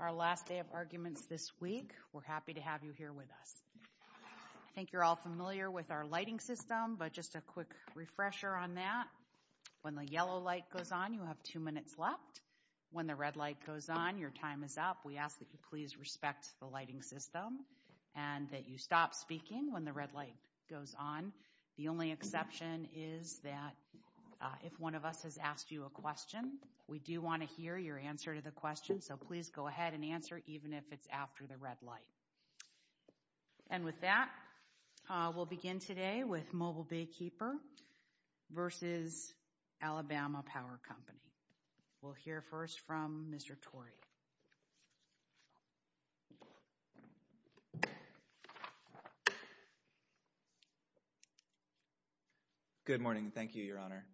Our last day of arguments this week. We're happy to have you here with us. I think you're all familiar with our lighting system, but just a quick refresher on that. When the yellow light goes on, you have two minutes left. When the red light goes on, your time is up. We ask that you please respect the lighting system and that you stop speaking when the red light goes on. The only exception is that if one of us has asked you a question, we do want to hear your answer to the question, so please go ahead and answer, even if it's after the red light. And with that, we'll begin today with Mobile Baykeeper v. Alabama Power Company. We'll hear first from Mr. Torrey. Nick Torrey Good morning. Thank you, Your Honor.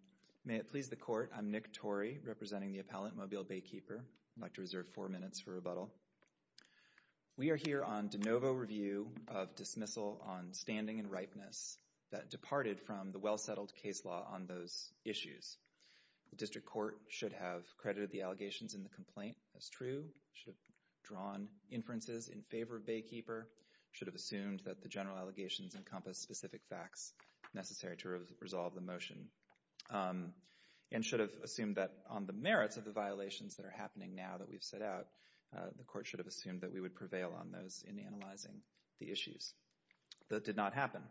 May it please the Court, I'm Nick Torrey, representing the appellant Mobile Baykeeper. I'd like to reserve four minutes for rebuttal. We are here on de novo review of dismissal on standing and ripeness that departed from the well-settled case law on those issues. The district court should have credited the allegations in the complaint as true, should have drawn inferences in favor of Baykeeper, should have assumed that the general allegations encompass specific facts necessary to resolve the motion, and should have assumed that on the merits of the violations that are happening now that we've set out, the court should have assumed that we would prevail on those in analyzing the issues. That did not happen.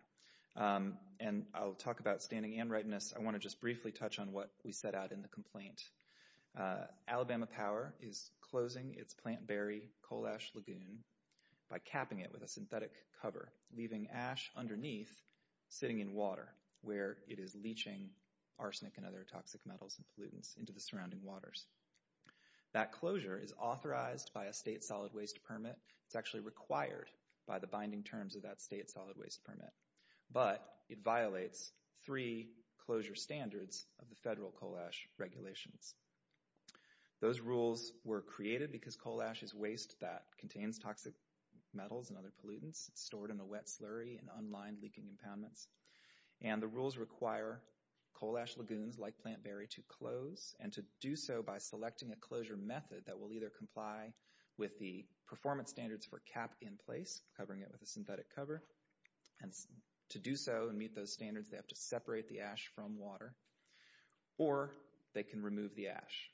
And I'll talk about standing and ripeness. I want to just briefly touch on what we set out in the complaint. Alabama Power is closing its Plantberry coal ash lagoon by capping it with a synthetic cover, leaving ash underneath sitting in water where it is leaching arsenic and other toxic metals and pollutants into the surrounding waters. That closure is authorized by a state solid waste permit. It's actually required by the binding terms of that state solid waste permit, but it violates three closure standards of the federal coal ash regulations. Those rules were created because coal ash is waste that contains toxic metals and other pollutants. It's stored in a wet slurry and unlined leaking impoundments. And the rules require coal ash lagoons like Plantberry to close and to do so by selecting a closure method that will either comply with the performance standards for cap in place, covering it with a synthetic cover, and to do so and meet those standards they have to separate the ash from water, or they can remove the ash.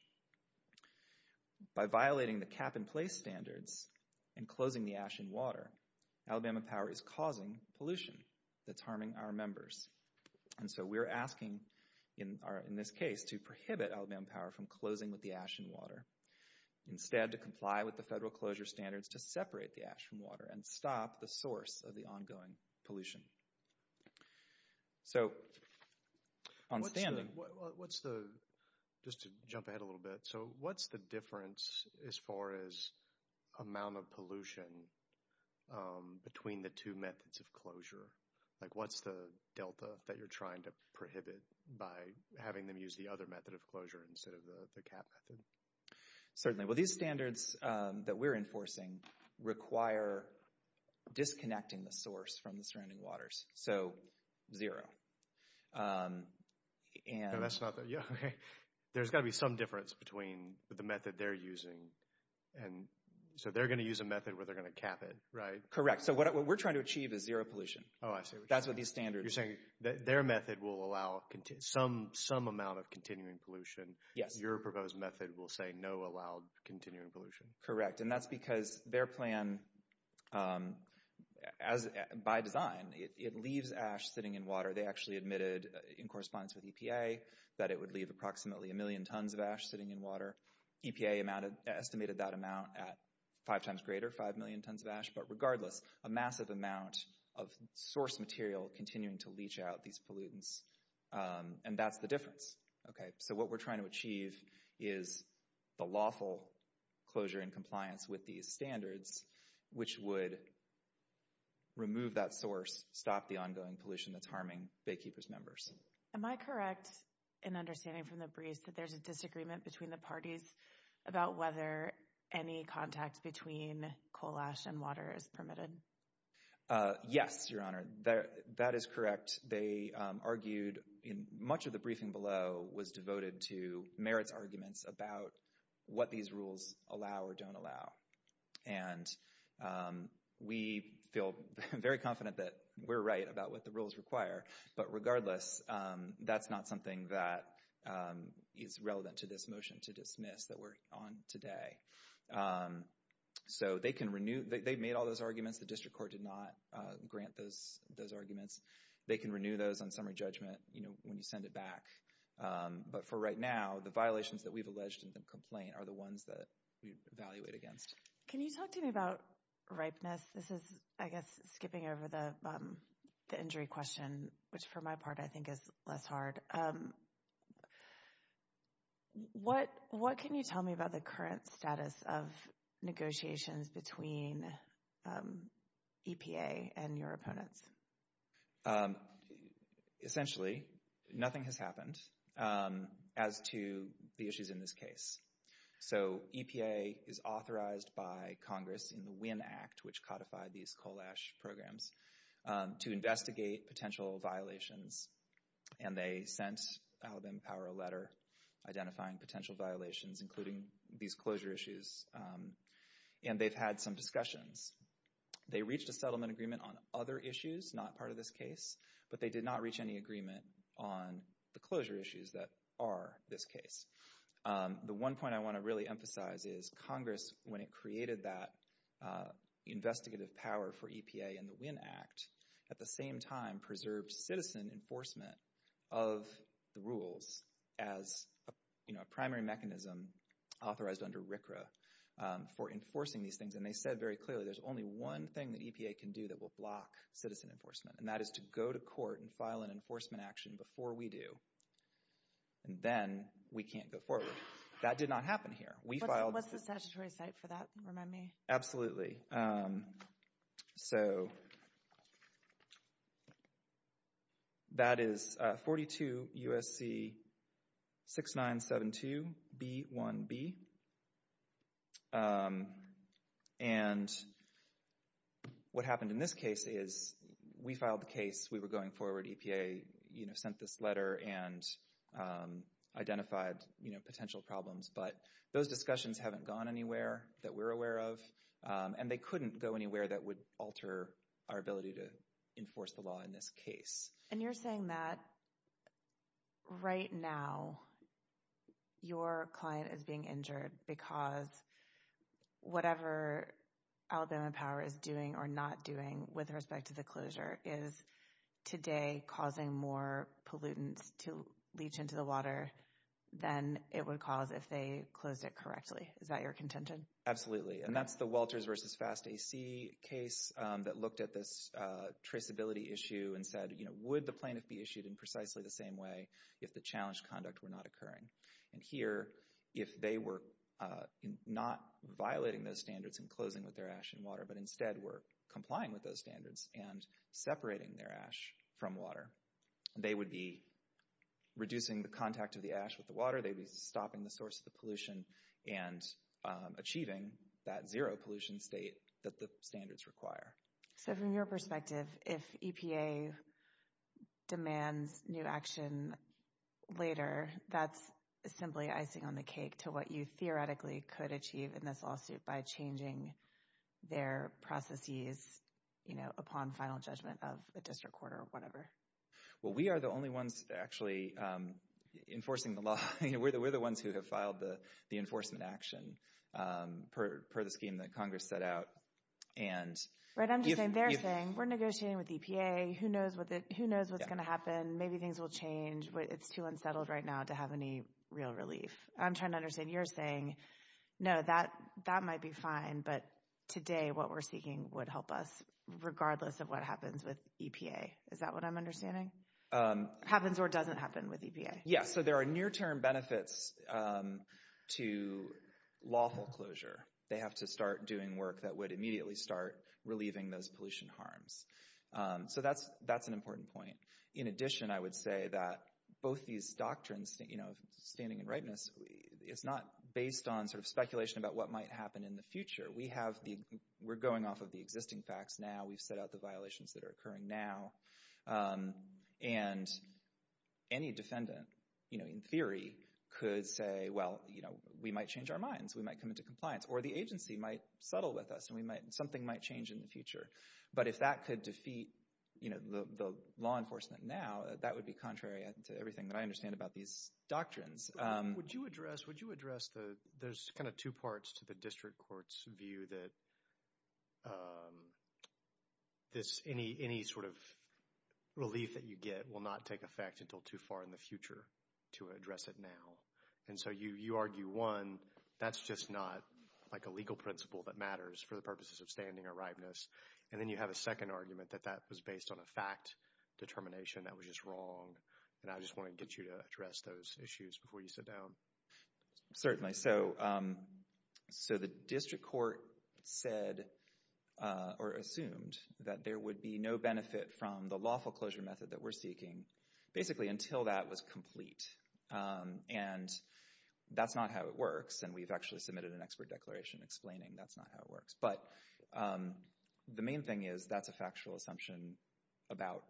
By violating the cap in place standards and closing the ash in water, Alabama Power is causing pollution that's harming our members. And so we're asking in this case to prohibit Alabama Power from closing with the ash in water. Instead, to comply with the federal closure standards to separate the ash from water and stop the source of the ongoing pollution. So, on standing, what's the, just to jump ahead a little bit, so what's the difference as far as amount of pollution between the two methods of closure? Like what's the delta that you're trying to prohibit by having them use the other method of closure instead of the cap method? Certainly, well these standards that we're enforcing require disconnecting the source from the surrounding waters. So, zero. And that's not the, yeah, okay. There's got to be some difference between the method they're using and, so they're going to use a method where they're going to cap it, right? Correct, so what we're trying to achieve is zero pollution. Oh, I see. That's what these standards. You're saying that their method will allow some amount of continuing pollution. Yes. Your proposed method will say no allowed continuing pollution. Correct, and that's because their plan, by design, it leaves ash sitting in water. They actually admitted in correspondence with EPA that it would leave approximately a million tons of ash sitting in water. EPA estimated that amount at five times greater, five million tons of ash. But regardless, a massive amount of source material continuing to leach out these pollutants, and that's the difference. Okay, so what we're trying to achieve is the lawful closure in compliance with these standards, which would remove that source, stop the ongoing pollution that's harming Baykeepers members. Am I correct in understanding from the briefs that there's a disagreement between the parties about whether any contact between coal ash and water is permitted? Yes, Your Honor, that is correct. They argued in much of the briefing below was devoted to merits arguments about what these rules allow or don't allow. And we feel very confident that we're right about what the rules require, but regardless, that's not something that is relevant to this motion to dismiss that we're on today. So they can renew, they've made all those arguments. The district court did not grant those arguments. They can renew those on summary judgment, you know, when you send it back. But for right now, the violations that we've alleged in the complaint are the ones that we evaluate against. Can you talk to me about ripeness? This is, I guess, skipping over the injury question, which for my part I think is less hard. What can you tell me about the current status of negotiations between EPA and your opponents? Essentially, nothing has happened as to the issues in this case. So EPA is authorized by Congress in the WIN Act, which codified these coal ash programs, to investigate potential violations. And they sent Alabama Power a letter identifying potential violations, including these closure issues. And they've had some discussions. They reached a settlement agreement on other issues, not part of this case, but they did not reach any agreement on the closure issues that are this case. The one point I want to really emphasize is Congress, when it created that investigative power for EPA in the WIN Act, at the same time preserved citizen enforcement of the rules as, you know, a primary mechanism authorized under RCRA for enforcing these things. And they said very clearly there's only one thing that EPA can do that will block citizen enforcement, and that is to go to court and file an enforcement action before we do. And then we can't go forward. That did not happen here. What's the statutory site for that? Remind me. Absolutely. So that is 42 U.S.C. 6972 B.1.B. And what happened in this case is we filed the case. We were going forward. EPA, you know, sent this letter and identified, you know, potential problems. But those discussions haven't gone anywhere that we're aware of, and they couldn't go anywhere that would alter our ability to enforce the law in this case. And you're saying that right now your client is being injured because whatever Alabama Power is doing or not doing with respect to the closure is today causing more pollutants to leach into the water than it would cause if they closed it correctly. Is that your contention? Absolutely. And that's the Walters v. Fast AC case that looked at this traceability issue and said, you know, would the plaintiff be issued in precisely the same way if the challenged conduct were not occurring? And here, if they were not violating those standards and closing with their ash and water, but instead were complying with those standards and separating their ash from water, they would be reducing the contact of the ash with the water. They'd be closing the source of the pollution and achieving that zero pollution state that the standards require. So from your perspective, if EPA demands new action later, that's simply icing on the cake to what you theoretically could achieve in this lawsuit by changing their processes, you know, upon final judgment of a district court or whatever. Well, we are the only ones actually enforcing the law. We're the ones who have filed the enforcement action per the scheme that Congress set out. Right, I'm just saying, they're saying we're negotiating with EPA, who knows what's going to happen, maybe things will change, but it's too unsettled right now to have any real relief. I'm trying to understand, you're saying, no, that might be fine, but today what we're seeking would help us regardless of what happens with EPA. Is that what I'm understanding? Happens or doesn't happen with EPA. Yeah, so there are near-term benefits to lawful closure. They have to start doing work that would immediately start relieving those pollution harms. So that's an important point. In addition, I would say that both these doctrines, you know, standing and rightness, it's not based on sort of speculation about what might happen in the future. We have the, we're going off of the existing facts now. We've set out the violations that are occurring now. And any defendant, you know, in theory could say, well, you know, we might change our minds, we might come into compliance, or the agency might settle with us, and we might, something might change in the future. But if that could defeat, you know, the law enforcement now, that would be contrary to everything that I understand about these doctrines. Would you address, would you address the, there's kind of two parts to the district court's view that this, any sort of relief that you get will not take effect until too far in the future to address it now. And so you argue, one, that's just not like a legal principle that matters for the purposes of standing or rightness. And then you have a second argument that that was based on a fact determination that was just wrong. And I just wanted to get you to address those issues before you sit down. Certainly. So the district court said, or assumed, that there would be no benefit from the lawful closure method that we're seeking, basically until that was complete. And that's not how it works. And we've actually submitted an expert declaration explaining that's not how it works. But the main thing is that's a factual assumption about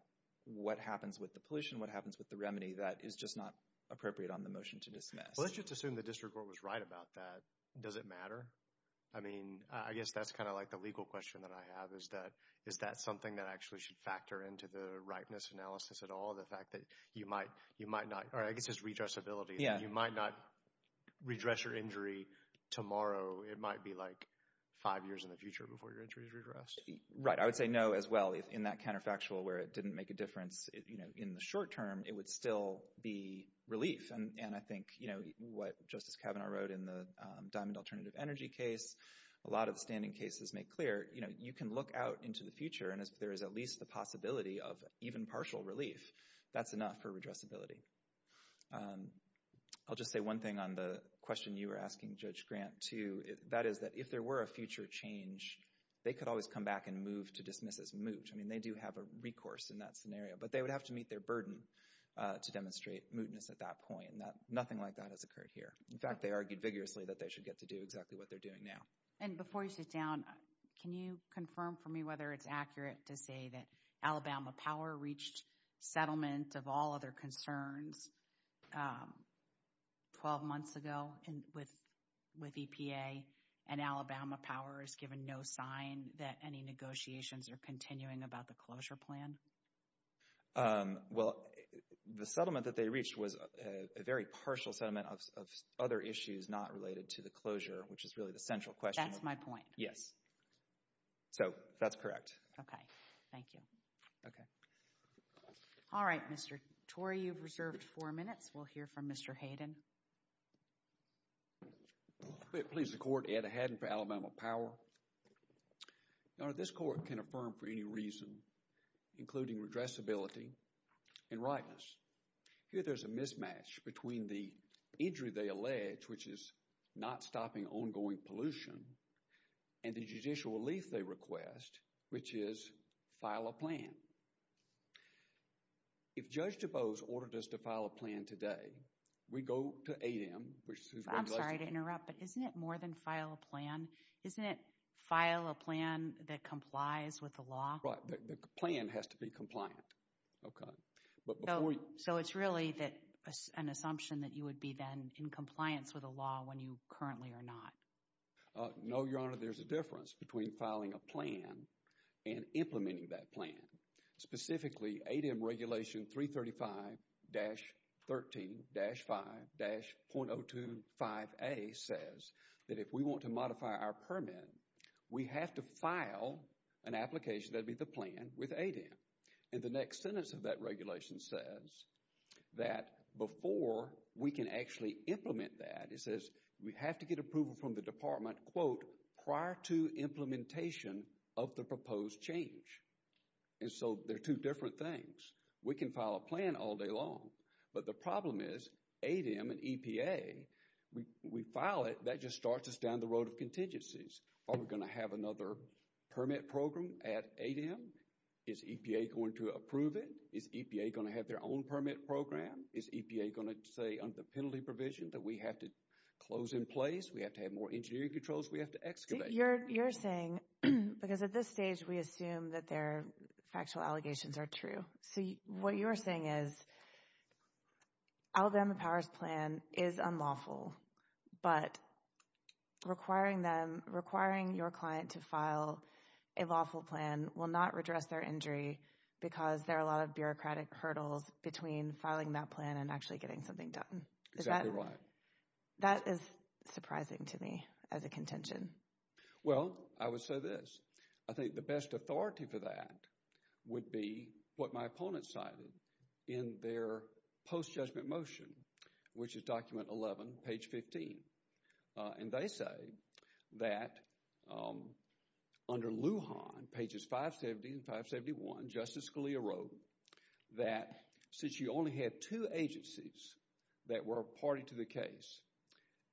what happens with the pollution, what happens with the remedy that is just not appropriate on the motion to dismiss. Let's just assume the district court was right about that. Does it matter? I mean, I guess that's kind of like the legal question that I have is that, is that something that actually should factor into the rightness analysis at all? The fact that you might, you might not, or I guess it's redressability. You might not redress your injury tomorrow. It might be like five years in the future before your injury is redressed. Right. I would say no as well. In that counterfactual where it didn't make a difference, you know, in the short term, it would still be relief. And I think, you know, what Justice Kavanaugh wrote in the Diamond Alternative Energy case, a lot of the standing cases make clear, you know, you can look out into the future and if there is at least the possibility of even partial relief, that's enough for redressability. I'll just say one thing on the question you were asking, Judge Grant, too. That is that if there were a future change, they could always come back and move to dismiss as moot. I mean, they do have a recourse in that scenario, but they would have to meet their burden to demonstrate mootness at that point. Nothing like that has occurred here. In fact, they argued vigorously that they should get to do exactly what they're doing now. And before you sit down, can you confirm for me whether it's accurate to say that Alabama Power reached settlement of all other concerns 12 months ago with EPA and Alabama Power is given no sign that any negotiations are continuing about the closure plan? Well, the settlement that they reached was a very partial settlement of other issues not related to the closure, which is really the central question. That's my point. Yes. So, that's correct. Okay. Thank you. Okay. All right, Mr. Torrey, you've reserved four minutes. We'll hear from Mr. Hayden. If it pleases the Court, Ed Hayden for Alabama Power. Your Honor, this court can affirm for any reason, including redressability and rightness. Here, there's a mismatch between the injury they allege, which is not stopping ongoing pollution, and the judicial relief they request, which is file a plan. If Judge DuBose ordered us to file a plan today, we go to ADEM, which is I'm sorry to interrupt, but isn't it more than file a plan? Isn't it file a plan that complies with the law? Right. The plan has to be compliant. Okay. So, it's really an assumption that you would be then in compliance with the law when you currently are not? No, Your Honor. There's a between filing a plan and implementing that plan. Specifically, ADEM Regulation 335-13-5-.025a says that if we want to modify our permit, we have to file an application. That'd be the plan with ADEM. And the next sentence of that regulation says that before we can actually implement that, it says we have to get approval from the department, quote, prior to implementation of the proposed change. And so, they're two different things. We can file a plan all day long, but the problem is ADEM and EPA, we file it, that just starts us down the road of contingencies. Are we going to have another permit program at ADEM? Is EPA going to approve it? Is EPA going to have their own permit program? Is EPA going to say under penalty provision that we have to close in place, we have to have more engineering controls, we have to excavate? You're saying, because at this stage, we assume that their factual allegations are true. So, what you're saying is Alabama Powers Plan is unlawful, but requiring them, requiring your client to file a lawful plan will not redress their injury because there are a lot of bureaucratic hurdles between filing that plan and actually getting something done. Exactly right. That is surprising to me as a contention. Well, I would say this. I think the best authority for that would be what my opponent cited in their post-judgment motion, which is document 11, page 15. And they say that under Lujan, pages 570 and 571, Justice Scalia wrote that since you only had two agencies that were a party to the case,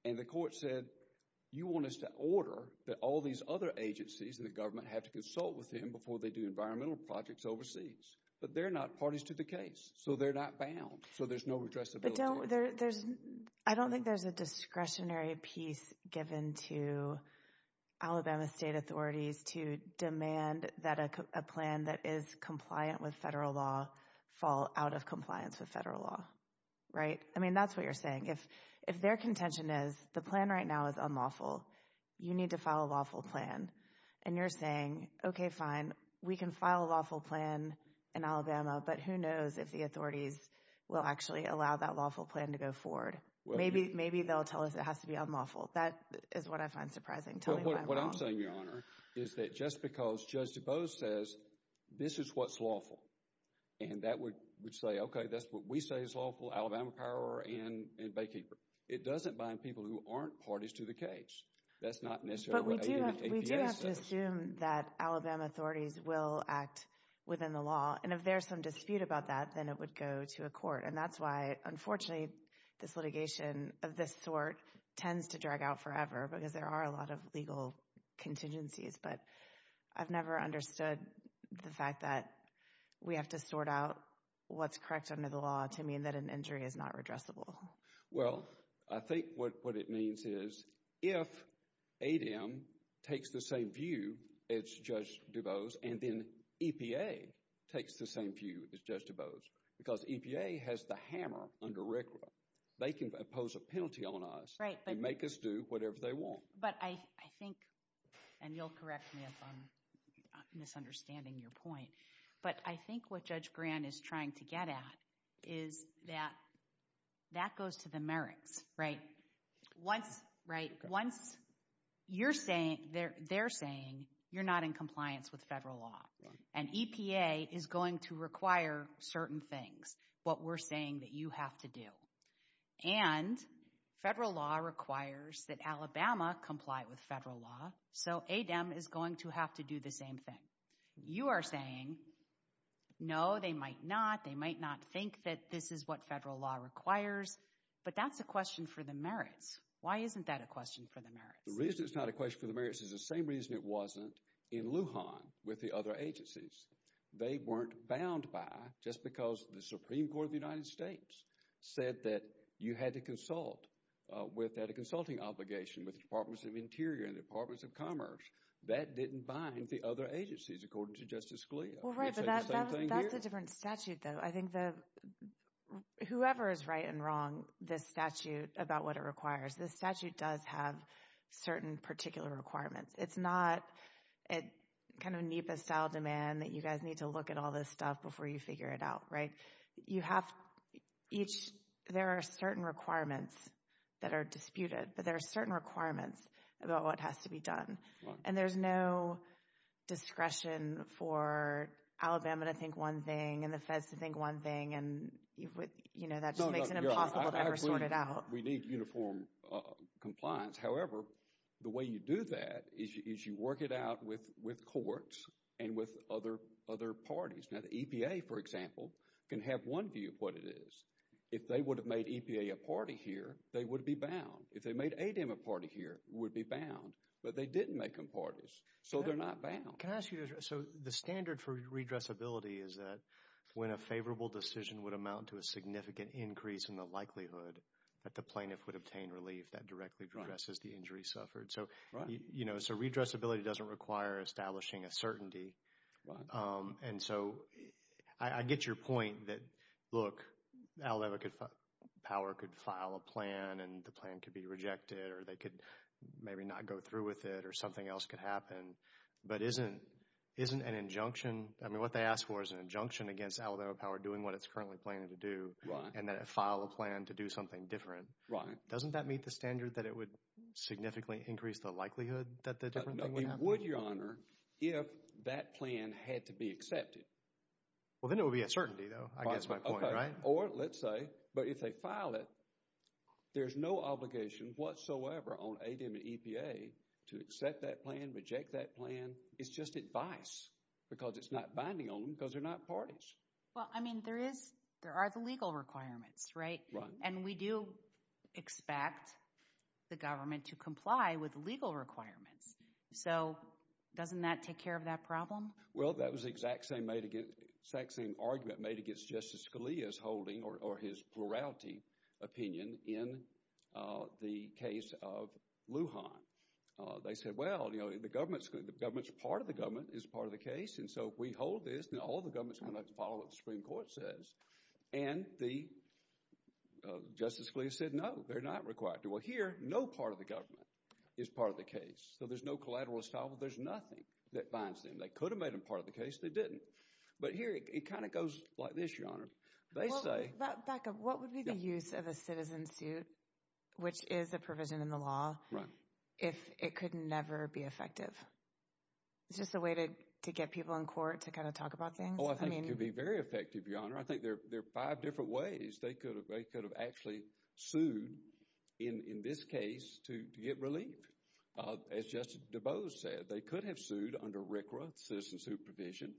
and the court said, you want us to order that all these other agencies and the government have to consult with him before they do environmental projects overseas. But they're not parties to the case, so they're not bound. So, there's no redressability. I don't think there's a discretionary given to Alabama state authorities to demand that a plan that is compliant with federal law fall out of compliance with federal law, right? I mean, that's what you're saying. If their contention is the plan right now is unlawful, you need to file a lawful plan. And you're saying, okay, fine, we can file a lawful plan in Alabama, but who knows if the authorities will actually allow that lawful plan to go forward. Maybe they'll tell us it has to be unlawful. That is what I find surprising. What I'm saying, Your Honor, is that just because Judge DuBose says, this is what's lawful, and that would say, okay, that's what we say is lawful, Alabama Power and Baykeeper. It doesn't bind people who aren't parties to the case. That's not necessarily what ADA says. But we do have to assume that Alabama authorities will act within the law. And if there's some dispute about that, then it would go to a court. And that's why, unfortunately, this litigation of this sort tends to drag out forever because there are a lot of legal contingencies. But I've never understood the fact that we have to sort out what's correct under the law to mean that an injury is not redressable. Well, I think what it means is, if ADEM takes the same view as Judge DuBose, and then EPA takes the same view as Judge DuBose, because EPA has the hammer under RCRA, they can impose a penalty on us and make us do whatever they want. But I think, and you'll correct me if I'm misunderstanding your point, but I think what Judge Grant is trying to get at is that that goes to the merits, right? Once you're saying, they're saying, you're not in compliance with federal law. And EPA is going to require certain things, what we're saying that you have to do. And federal law requires that Alabama comply with federal law. So ADEM is going to have to do the same thing. You are saying, no, they might not. They might not think that this is what federal law requires. But that's a question for the merits. Why isn't that a question for the merits? The reason it's not a question for the merits is the same reason it wasn't in Lujan with the other agencies. They weren't bound by, just because the Supreme Court of the United States said that you had to consult without a consulting obligation with the Departments of Interior and the Departments of Commerce. That didn't bind the other agencies, according to Justice Scalia. Well, right, but that's a different statute, though. I think whoever is right and wrong this statute about what it requires, this statute does have certain particular requirements. It's not a kind of NEPA style demand that you guys need to look at all this stuff before you figure it out, right? You have each, there are certain requirements that are disputed, but there are certain requirements about what has to be done. And there's no discretion for Alabama to think one thing and the feds to think one thing, and that just makes it impossible to ever sort it out. We need uniform compliance. However, the way you do that is you work it out with courts and with other parties. Now the EPA, for example, can have one view of what it is. If they would have made EPA a party here, they would be bound. If they made ADEM a party here, would be bound. But they didn't make them parties, so they're not bound. Can I ask you, so the standard for redressability is that when a favorable decision would amount to a significant increase in the likelihood that the plaintiff would obtain relief, that directly addresses the injury suffered. So, you know, so redressability doesn't require establishing a certainty. And so I get your point that, look, Alabama could, power could file a plan and the plan could be rejected, or they could maybe not go through with it, or something else could happen. But isn't, isn't an injunction, I mean what they ask for is an injunction against Alabama Power doing what it's currently planning to do, and that it file a plan to do something different. Right. Doesn't that meet the standard that it would significantly increase the likelihood that the different thing would happen? It would, your honor, if that plan had to be accepted. Well, then it would be a certainty though, I guess my point, right? Or let's say, but if they file it, there's no obligation whatsoever on ADM and EPA to accept that plan, reject that plan. It's just advice, because it's not binding on them, because they're not parties. Well, I mean there is, there are the legal requirements, right? And we do expect the government to comply with legal requirements. So, doesn't that take care of that problem? Well, that was the exact same argument made against Justice Scalia's holding, or his plurality opinion, in the case of Lujan. They said, well, you know, the government's, the government's part of the government, is part of the case. And so, if we hold this, then all the government's going to follow what the Supreme Court says. And the, Justice Scalia said, no, they're not required to. Well, here, no part of the government is part of the case. So, there's no collateral establishment, there's nothing that binds them. They could have made them part of the case, they didn't. But here, it kind of goes like this, your honor. They say... Becca, what would be the use of a citizen suit, which is a provision in the law, if it could never be effective? Is this a way to get people in court to kind of talk about things? Oh, I think it could be very effective, your honor. I think there are five different ways they could have actually sued, in this case, to get relief. As Justice DuBose said, they could have sued under RCRA, citizen suit provision,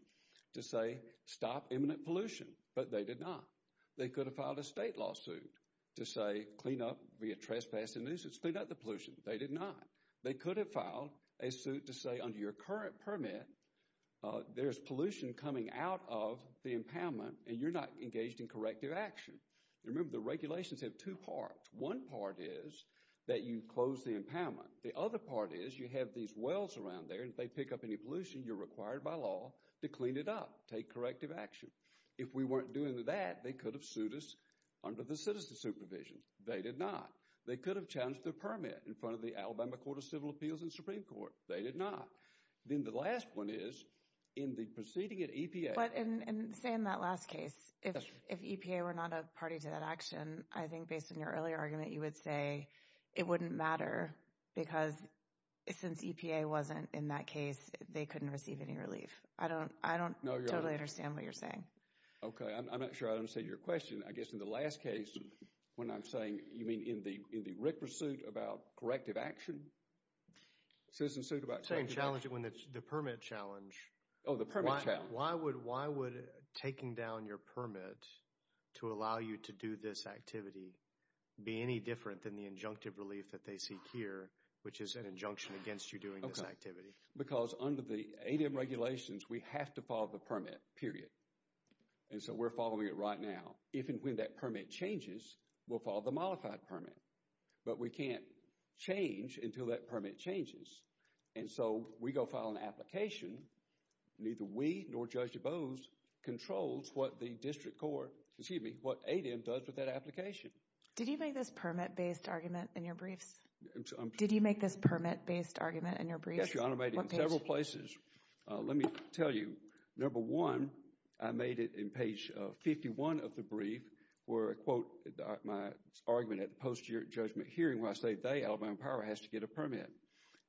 to say, stop imminent pollution. But they did not. They could have filed a state lawsuit to say, clean up, be a trespassing nuisance, clean up the pollution. They did not. They could have filed a suit to say, under your current permit, there's pollution coming out of the impoundment, and you're not engaged in corrective action. Remember, the regulations have two parts. One part is that you close the impoundment. The other part is, you have these wells around there, and if they pick up any pollution, you're required by law to clean it up, take corrective action. If we weren't doing that, they could have sued us under the citizen supervision. They did not. They could have challenged their permit in front of the Alabama Court of Civil Appeals and Supreme Court. They did not. Then the last one is, in the proceeding at EPA. But, and say in that last case, if EPA were not a party to that action, I think based on your earlier argument, you would say it wouldn't matter, because since EPA wasn't in that case, they couldn't receive any relief. I don't totally understand what you're saying. Okay, I'm not sure I understand your question. I guess in the last case, when I'm saying, you mean in the Rick pursuit about corrective action? Citizen suit about corrective action. Same challenge, the permit challenge. Oh, the permit challenge. Why would taking down your permit to allow you to do this activity be any different than the injunctive relief that they seek here, which is an injunction against you doing this activity? Because under the ADM regulations, we have to follow the permit, period. And so we're following it right now. If and when that permit changes, we'll follow the modified permit. But we can't change until that permit changes. And so we go file an application, neither we nor Judge DuBose controls what the district court, excuse me, what ADM does with that application. Did you make this permit-based argument in your briefs? Did you make this permit-based argument in your briefs? Yes, Your Honor, I made it in several places. Let me tell you, number one, I made it in page 51 of the brief where I quote my argument at the post-judgment hearing where I say they, Alabama Power, has to get a permit.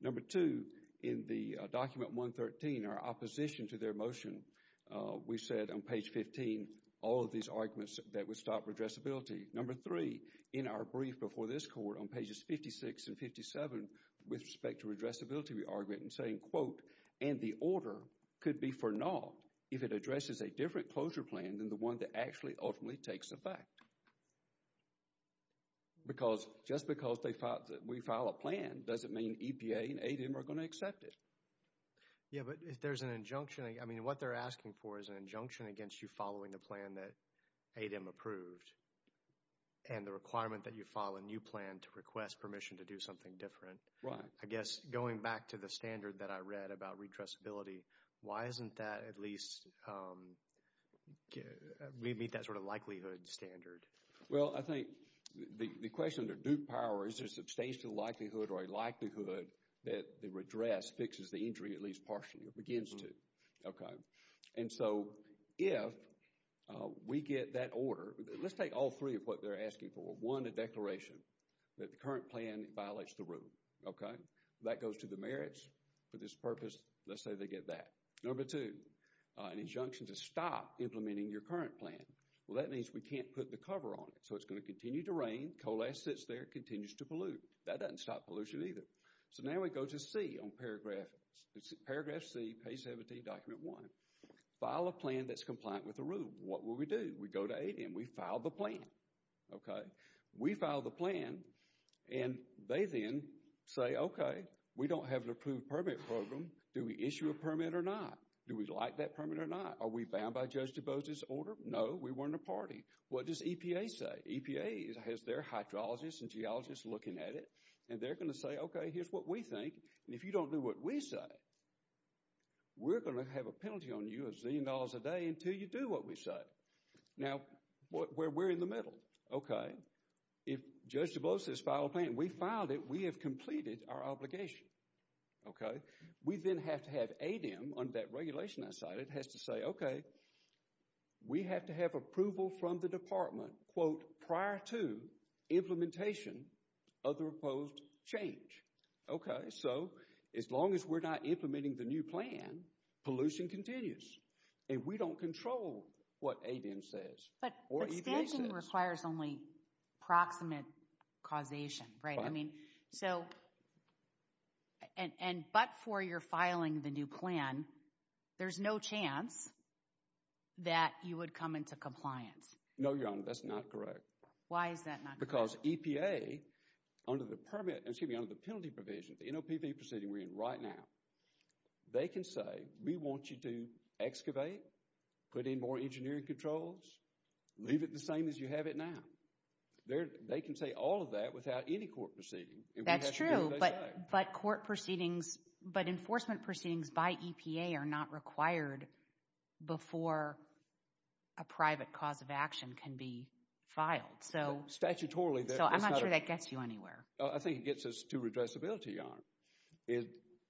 Number two, in the document 113, our opposition to their motion, we said on page 15, all of these arguments that would stop redressability. Number three, in our brief before this court on pages 56 and 57 with respect to redressability, we argued in saying, quote, and the order could be for naught if it addresses a different closure plan than the one that actually ultimately takes effect. Because just because we file a plan doesn't mean EPA and ADM are going to accept it. Yeah, but if there's an injunction, I mean, what they're asking for is an injunction against you following the plan that ADM approved and the requirement that you file a new plan to request permission to do something different. Right. I guess going back to the standard that I read about redressability, why isn't that at least we meet that sort of likelihood standard? Well, I think the question to Duke Power is there's substantial likelihood or a likelihood that the redress fixes the injury at least partially or begins to. Okay. And so if we get that order, let's take all three of what they're asking for. One, a declaration that the current plan violates the rule. Okay. That goes to the merits for this purpose. Let's say they get that. Number two, an injunction to stop implementing your current plan. Well, that means we can't put the cover on it. So it's going to continue to rain. Coal ash sits there, continues to pollute. That doesn't stop pollution either. So now we go to C on paragraph C, page 17, document one. File a plan that's compliant with the rule. What will we do? We go to ADM. We file the plan. Okay. We file the plan and they then say, okay, we don't have an approved permit program. Do we issue a permit or not? Do we like that permit or not? Are we bound by Judge DuBose's order? No, we weren't a party. What does EPA say? EPA has their hydrologists and geologists looking at it and they're going to say, okay, here's what we think. And if you don't do what we say, we're going to have a penalty on you of a zillion dollars a day until you do what we say. Now, we're in the middle. Okay. If Judge DuBose says file a plan, we filed it. We have completed our obligation. Okay. We then have to have ADM on that regulation I cited has to say, okay, we have to have approval from the department, quote, prior to implementation of the proposed change. Okay. So as long as we're not implementing the new plan, pollution continues and we don't control what ADM says or EPA says. But standing requires only proximate causation, right? I mean, so, and but for your filing the new plan, there's no chance that you would come into compliance. No, Your Honor, that's not correct. Why is that not correct? Because EPA, under the permit, excuse me, under the penalty provision, the NOPV proceeding we're in right now, they can say, we want you to excavate, put in more engineering controls, leave it the same as you have it now. They can say all of that without any court proceeding. That's true, but court proceedings, but enforcement proceedings by EPA are not required before a private cause of action can be filed. So, statutorily. So, I'm not sure that gets you I think it gets us to redressability, Your Honor.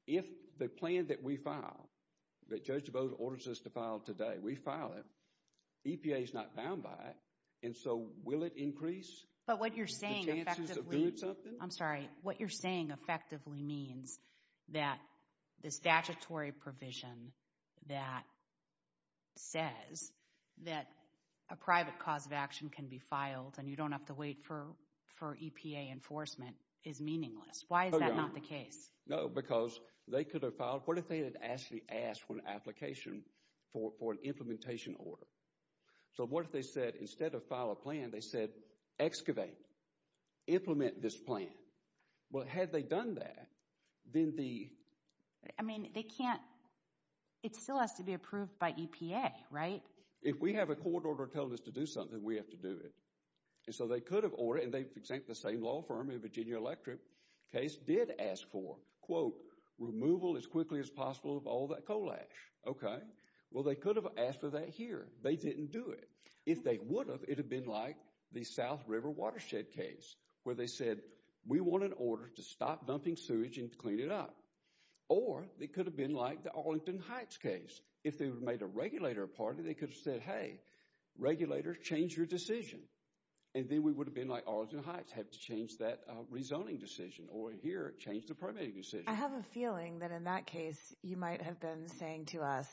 If the plan that we file, that Judge Bode orders us to file today, we file it, EPA is not bound by it, and so will it increase I'm sorry, what you're saying effectively means that the statutory provision that says that a private cause of action can be filed and you don't have to wait for EPA enforcement is meaningless. Why is that not the case? No, because they could have filed, what if they had actually asked for an application for an implementation order? So, what if they said, instead of file a plan, they said, excavate, implement this plan. Well, had they done that, then the I mean, they can't, it still has to be approved by EPA, right? If we have a court order telling us to do something, we have to do it, and so they could and they, the same law firm in Virginia Electric case, did ask for, quote, removal as quickly as possible of all that coal ash, okay? Well, they could have asked for that here. They didn't do it. If they would have, it would have been like the South River Watershed case, where they said, we want an order to stop dumping sewage and clean it up. Or, it could have been like the Arlington Heights case. If they made a regulator a party, they could have said, hey, regulators, change your decision, and then we would have been like Arlington Heights, have to change that rezoning decision, or here, change the permitting decision. I have a feeling that in that case, you might have been saying to us,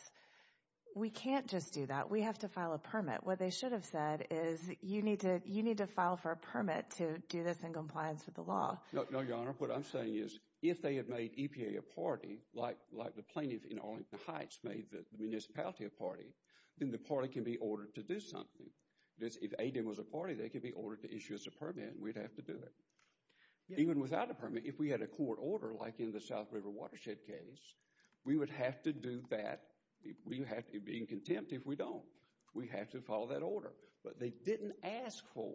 we can't just do that. We have to file a permit. What they should have said is, you need to, you need to file for a permit to do this in compliance with the law. No, no, your honor. What I'm saying is, if they had made EPA a party, like, like the plaintiff in Arlington Heights made the municipality a party, then the party can be ordered to do something. If Hayden was a party, they could be ordered to issue us a permit, and we'd have to do it. Even without a permit, if we had a court order, like in the South River Watershed case, we would have to do that. We have to be in contempt if we don't. We have to follow that order, but they didn't ask for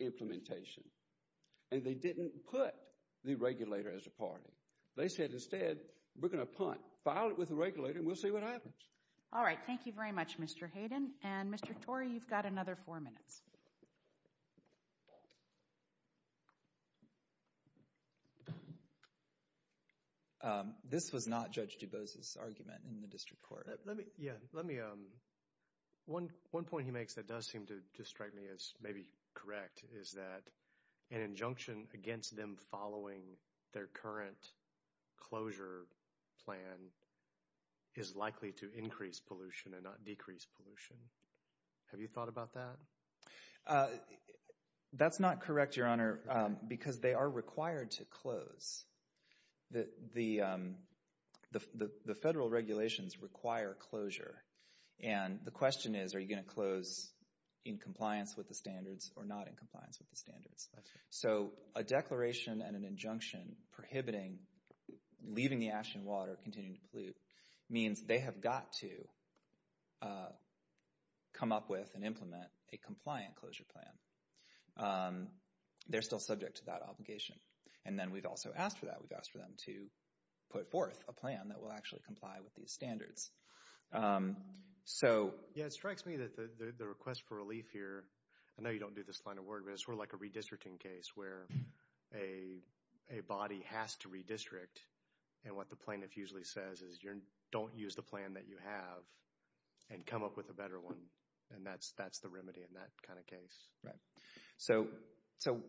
implementation, and they didn't put the regulator as a party. They said, instead, we're going to punt, file it with the regulator, and we'll see what happens. All right. Thank you very much, Mr. Hayden, and Mr. Torrey, you've got another four minutes. This was not Judge DuBose's argument in the district court. Let me, yeah, let me, one, one point he makes that does seem to strike me as maybe correct is that an injunction against them following their current closure plan is likely to increase pollution and not decrease pollution. Have you thought about that? That's not correct, Your Honor, because they are required to close. The, the, the, the federal regulations require closure, and the question is, are you going to close in compliance with the standards or not in compliance with the standards? So a declaration and an injunction prohibiting leaving the ash and water, continuing to pollute, means they have got to come up with and implement a compliant closure plan. They're still subject to that obligation, and then we've also asked for that. We've asked for them to put forth a plan that will actually comply with these standards. So, yeah, it strikes me that the, the, the request for relief here, I know you don't do this line of work, but it's more like a redistricting case where a, a body has to redistrict, and what the plaintiff usually says is you're, don't use the plan that you have and come up with a better one, and that's, that's the remedy in that kind of case. Right. So, so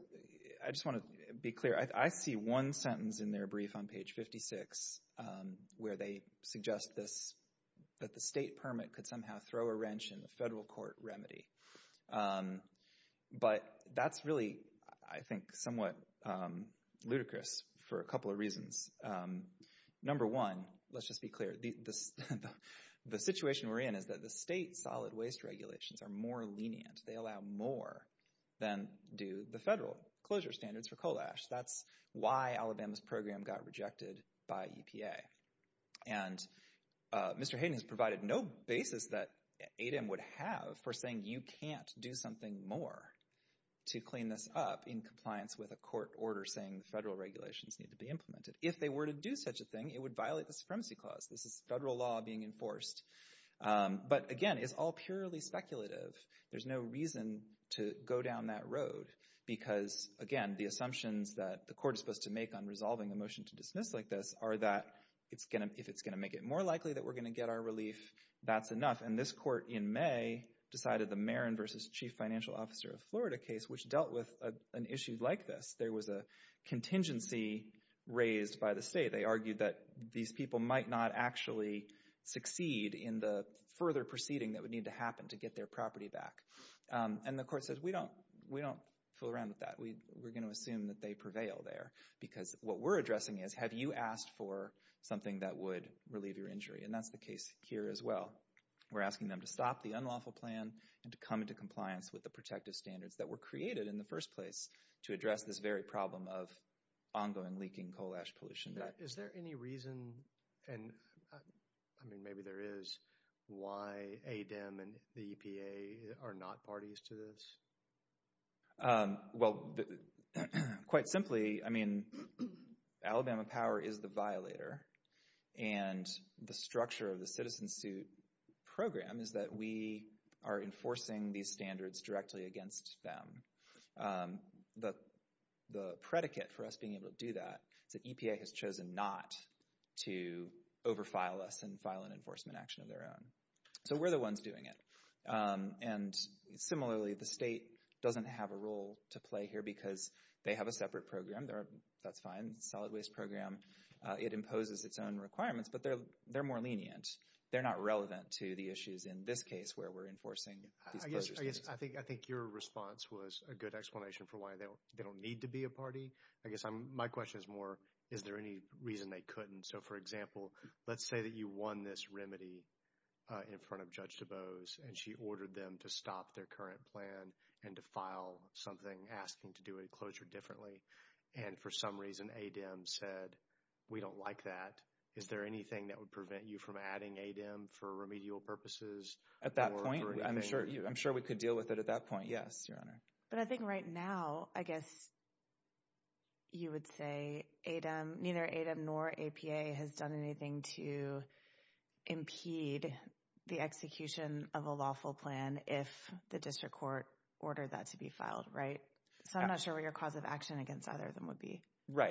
I just want to be clear. I see one sentence in their brief on page 56 where they suggest this, that the state permit could somehow throw a wrench in the federal court remedy, but that's really, I think, somewhat ludicrous for a couple of reasons. Number one, let's just be clear, the, the situation we're in is that the state solid waste regulations are more lenient. They allow more than do the federal closure standards for That's why Alabama's program got rejected by EPA. And Mr. Hayden has provided no basis that ADEM would have for saying you can't do something more to clean this up in compliance with a court order saying the federal regulations need to be implemented. If they were to do such a thing, it would violate the Supremacy Clause. This is federal law being enforced. But again, it's all purely speculative. There's no reason to go down that road because, again, the assumptions that the court is supposed to make on resolving a motion to dismiss like this are that it's going to, if it's going to make it more likely that we're going to get our relief, that's enough. And this court in May decided the Marin v. Chief Financial Officer of Florida case, which dealt with an issue like this. There was a contingency raised by the state. They argued that these people might not actually succeed in the further proceeding that would need to happen to get their property back. And the court says, we don't fool around with that. We're going to assume that they prevail there because what we're addressing is, have you asked for something that would relieve your injury? And that's the case here as well. We're asking them to stop the unlawful plan and to come into compliance with the protective standards that were created in the first place to address this very problem of ongoing leaking coal ash pollution. Is there any reason, and I mean, maybe there is, why ADEM and the EPA are not parties to this? Well, quite simply, I mean, Alabama Power is the violator. And the structure of the citizen suit program is that we are enforcing these standards directly against them. The predicate for us being able to do that is that EPA has chosen not to overfile us and file an enforcement action of their own. So we're the ones doing it. And similarly, the state doesn't have a role to play here because they have a separate program. That's fine, solid waste program. It imposes its own requirements, but they're more lenient. They're not relevant to the issues in this case where we're enforcing these closures. I think your response was a good explanation for why they don't need to be a party. I guess my question is more, is there any reason they couldn't? So, for example, let's say that you won this remedy in front of Judge DuBose and she ordered them to stop their current plan and to file something asking to do a closure differently. And for some reason, ADEM said, we don't like that. Is there anything that would prevent you from adding ADEM for remedial purposes? At that point, I'm sure we could deal with it at that point. Yes, Your Honor. But I think right now, I guess you would say neither ADEM nor APA has done anything to impede the execution of a lawful plan if the district court ordered that to be filed, right? So I'm not sure what your cause of action against either of them would be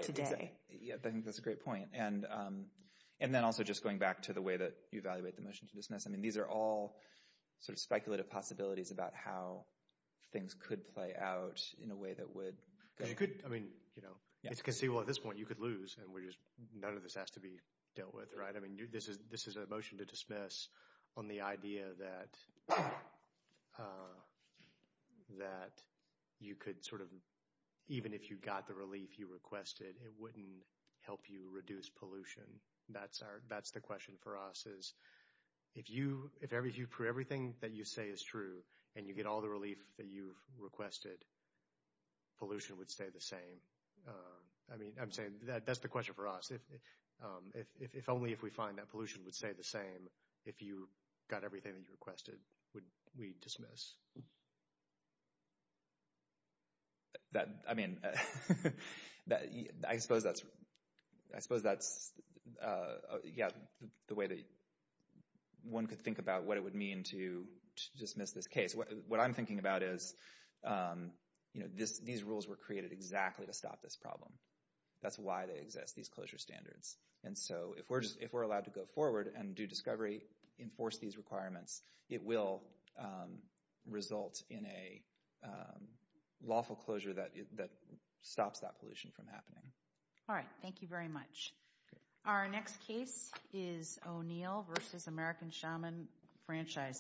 today. Yeah, I think that's a great point. And then also just going back to the way that you evaluate the motion to dismiss, I mean, these are all sort of speculative possibilities about how things could play out in a way that would... You could, I mean, you know, it's conceivable at this point, you could lose and none of this has to be dealt with, right? I mean, this is a motion to dismiss on the idea that you could sort of, even if you got the relief you requested, it wouldn't help you reduce pollution. That's the question for us is if everything that you say is true and you get all the relief that you've requested, pollution would stay the same. I mean, I'm saying that's the question for us. If only if we find that pollution would stay the same, if you got everything that you requested, would we dismiss? That, I mean, I suppose that's, yeah, the way that one could think about what it would mean to dismiss this case. What I'm thinking about is, you know, these rules were created exactly to stop this problem. That's why they exist, these closure standards. And so if we're allowed to go forward and do discovery, enforce these requirements, it will result in a lawful closure that stops that pollution from happening. All right. Thank you very much. Our next case is O'Neill versus American Shaman Franchise.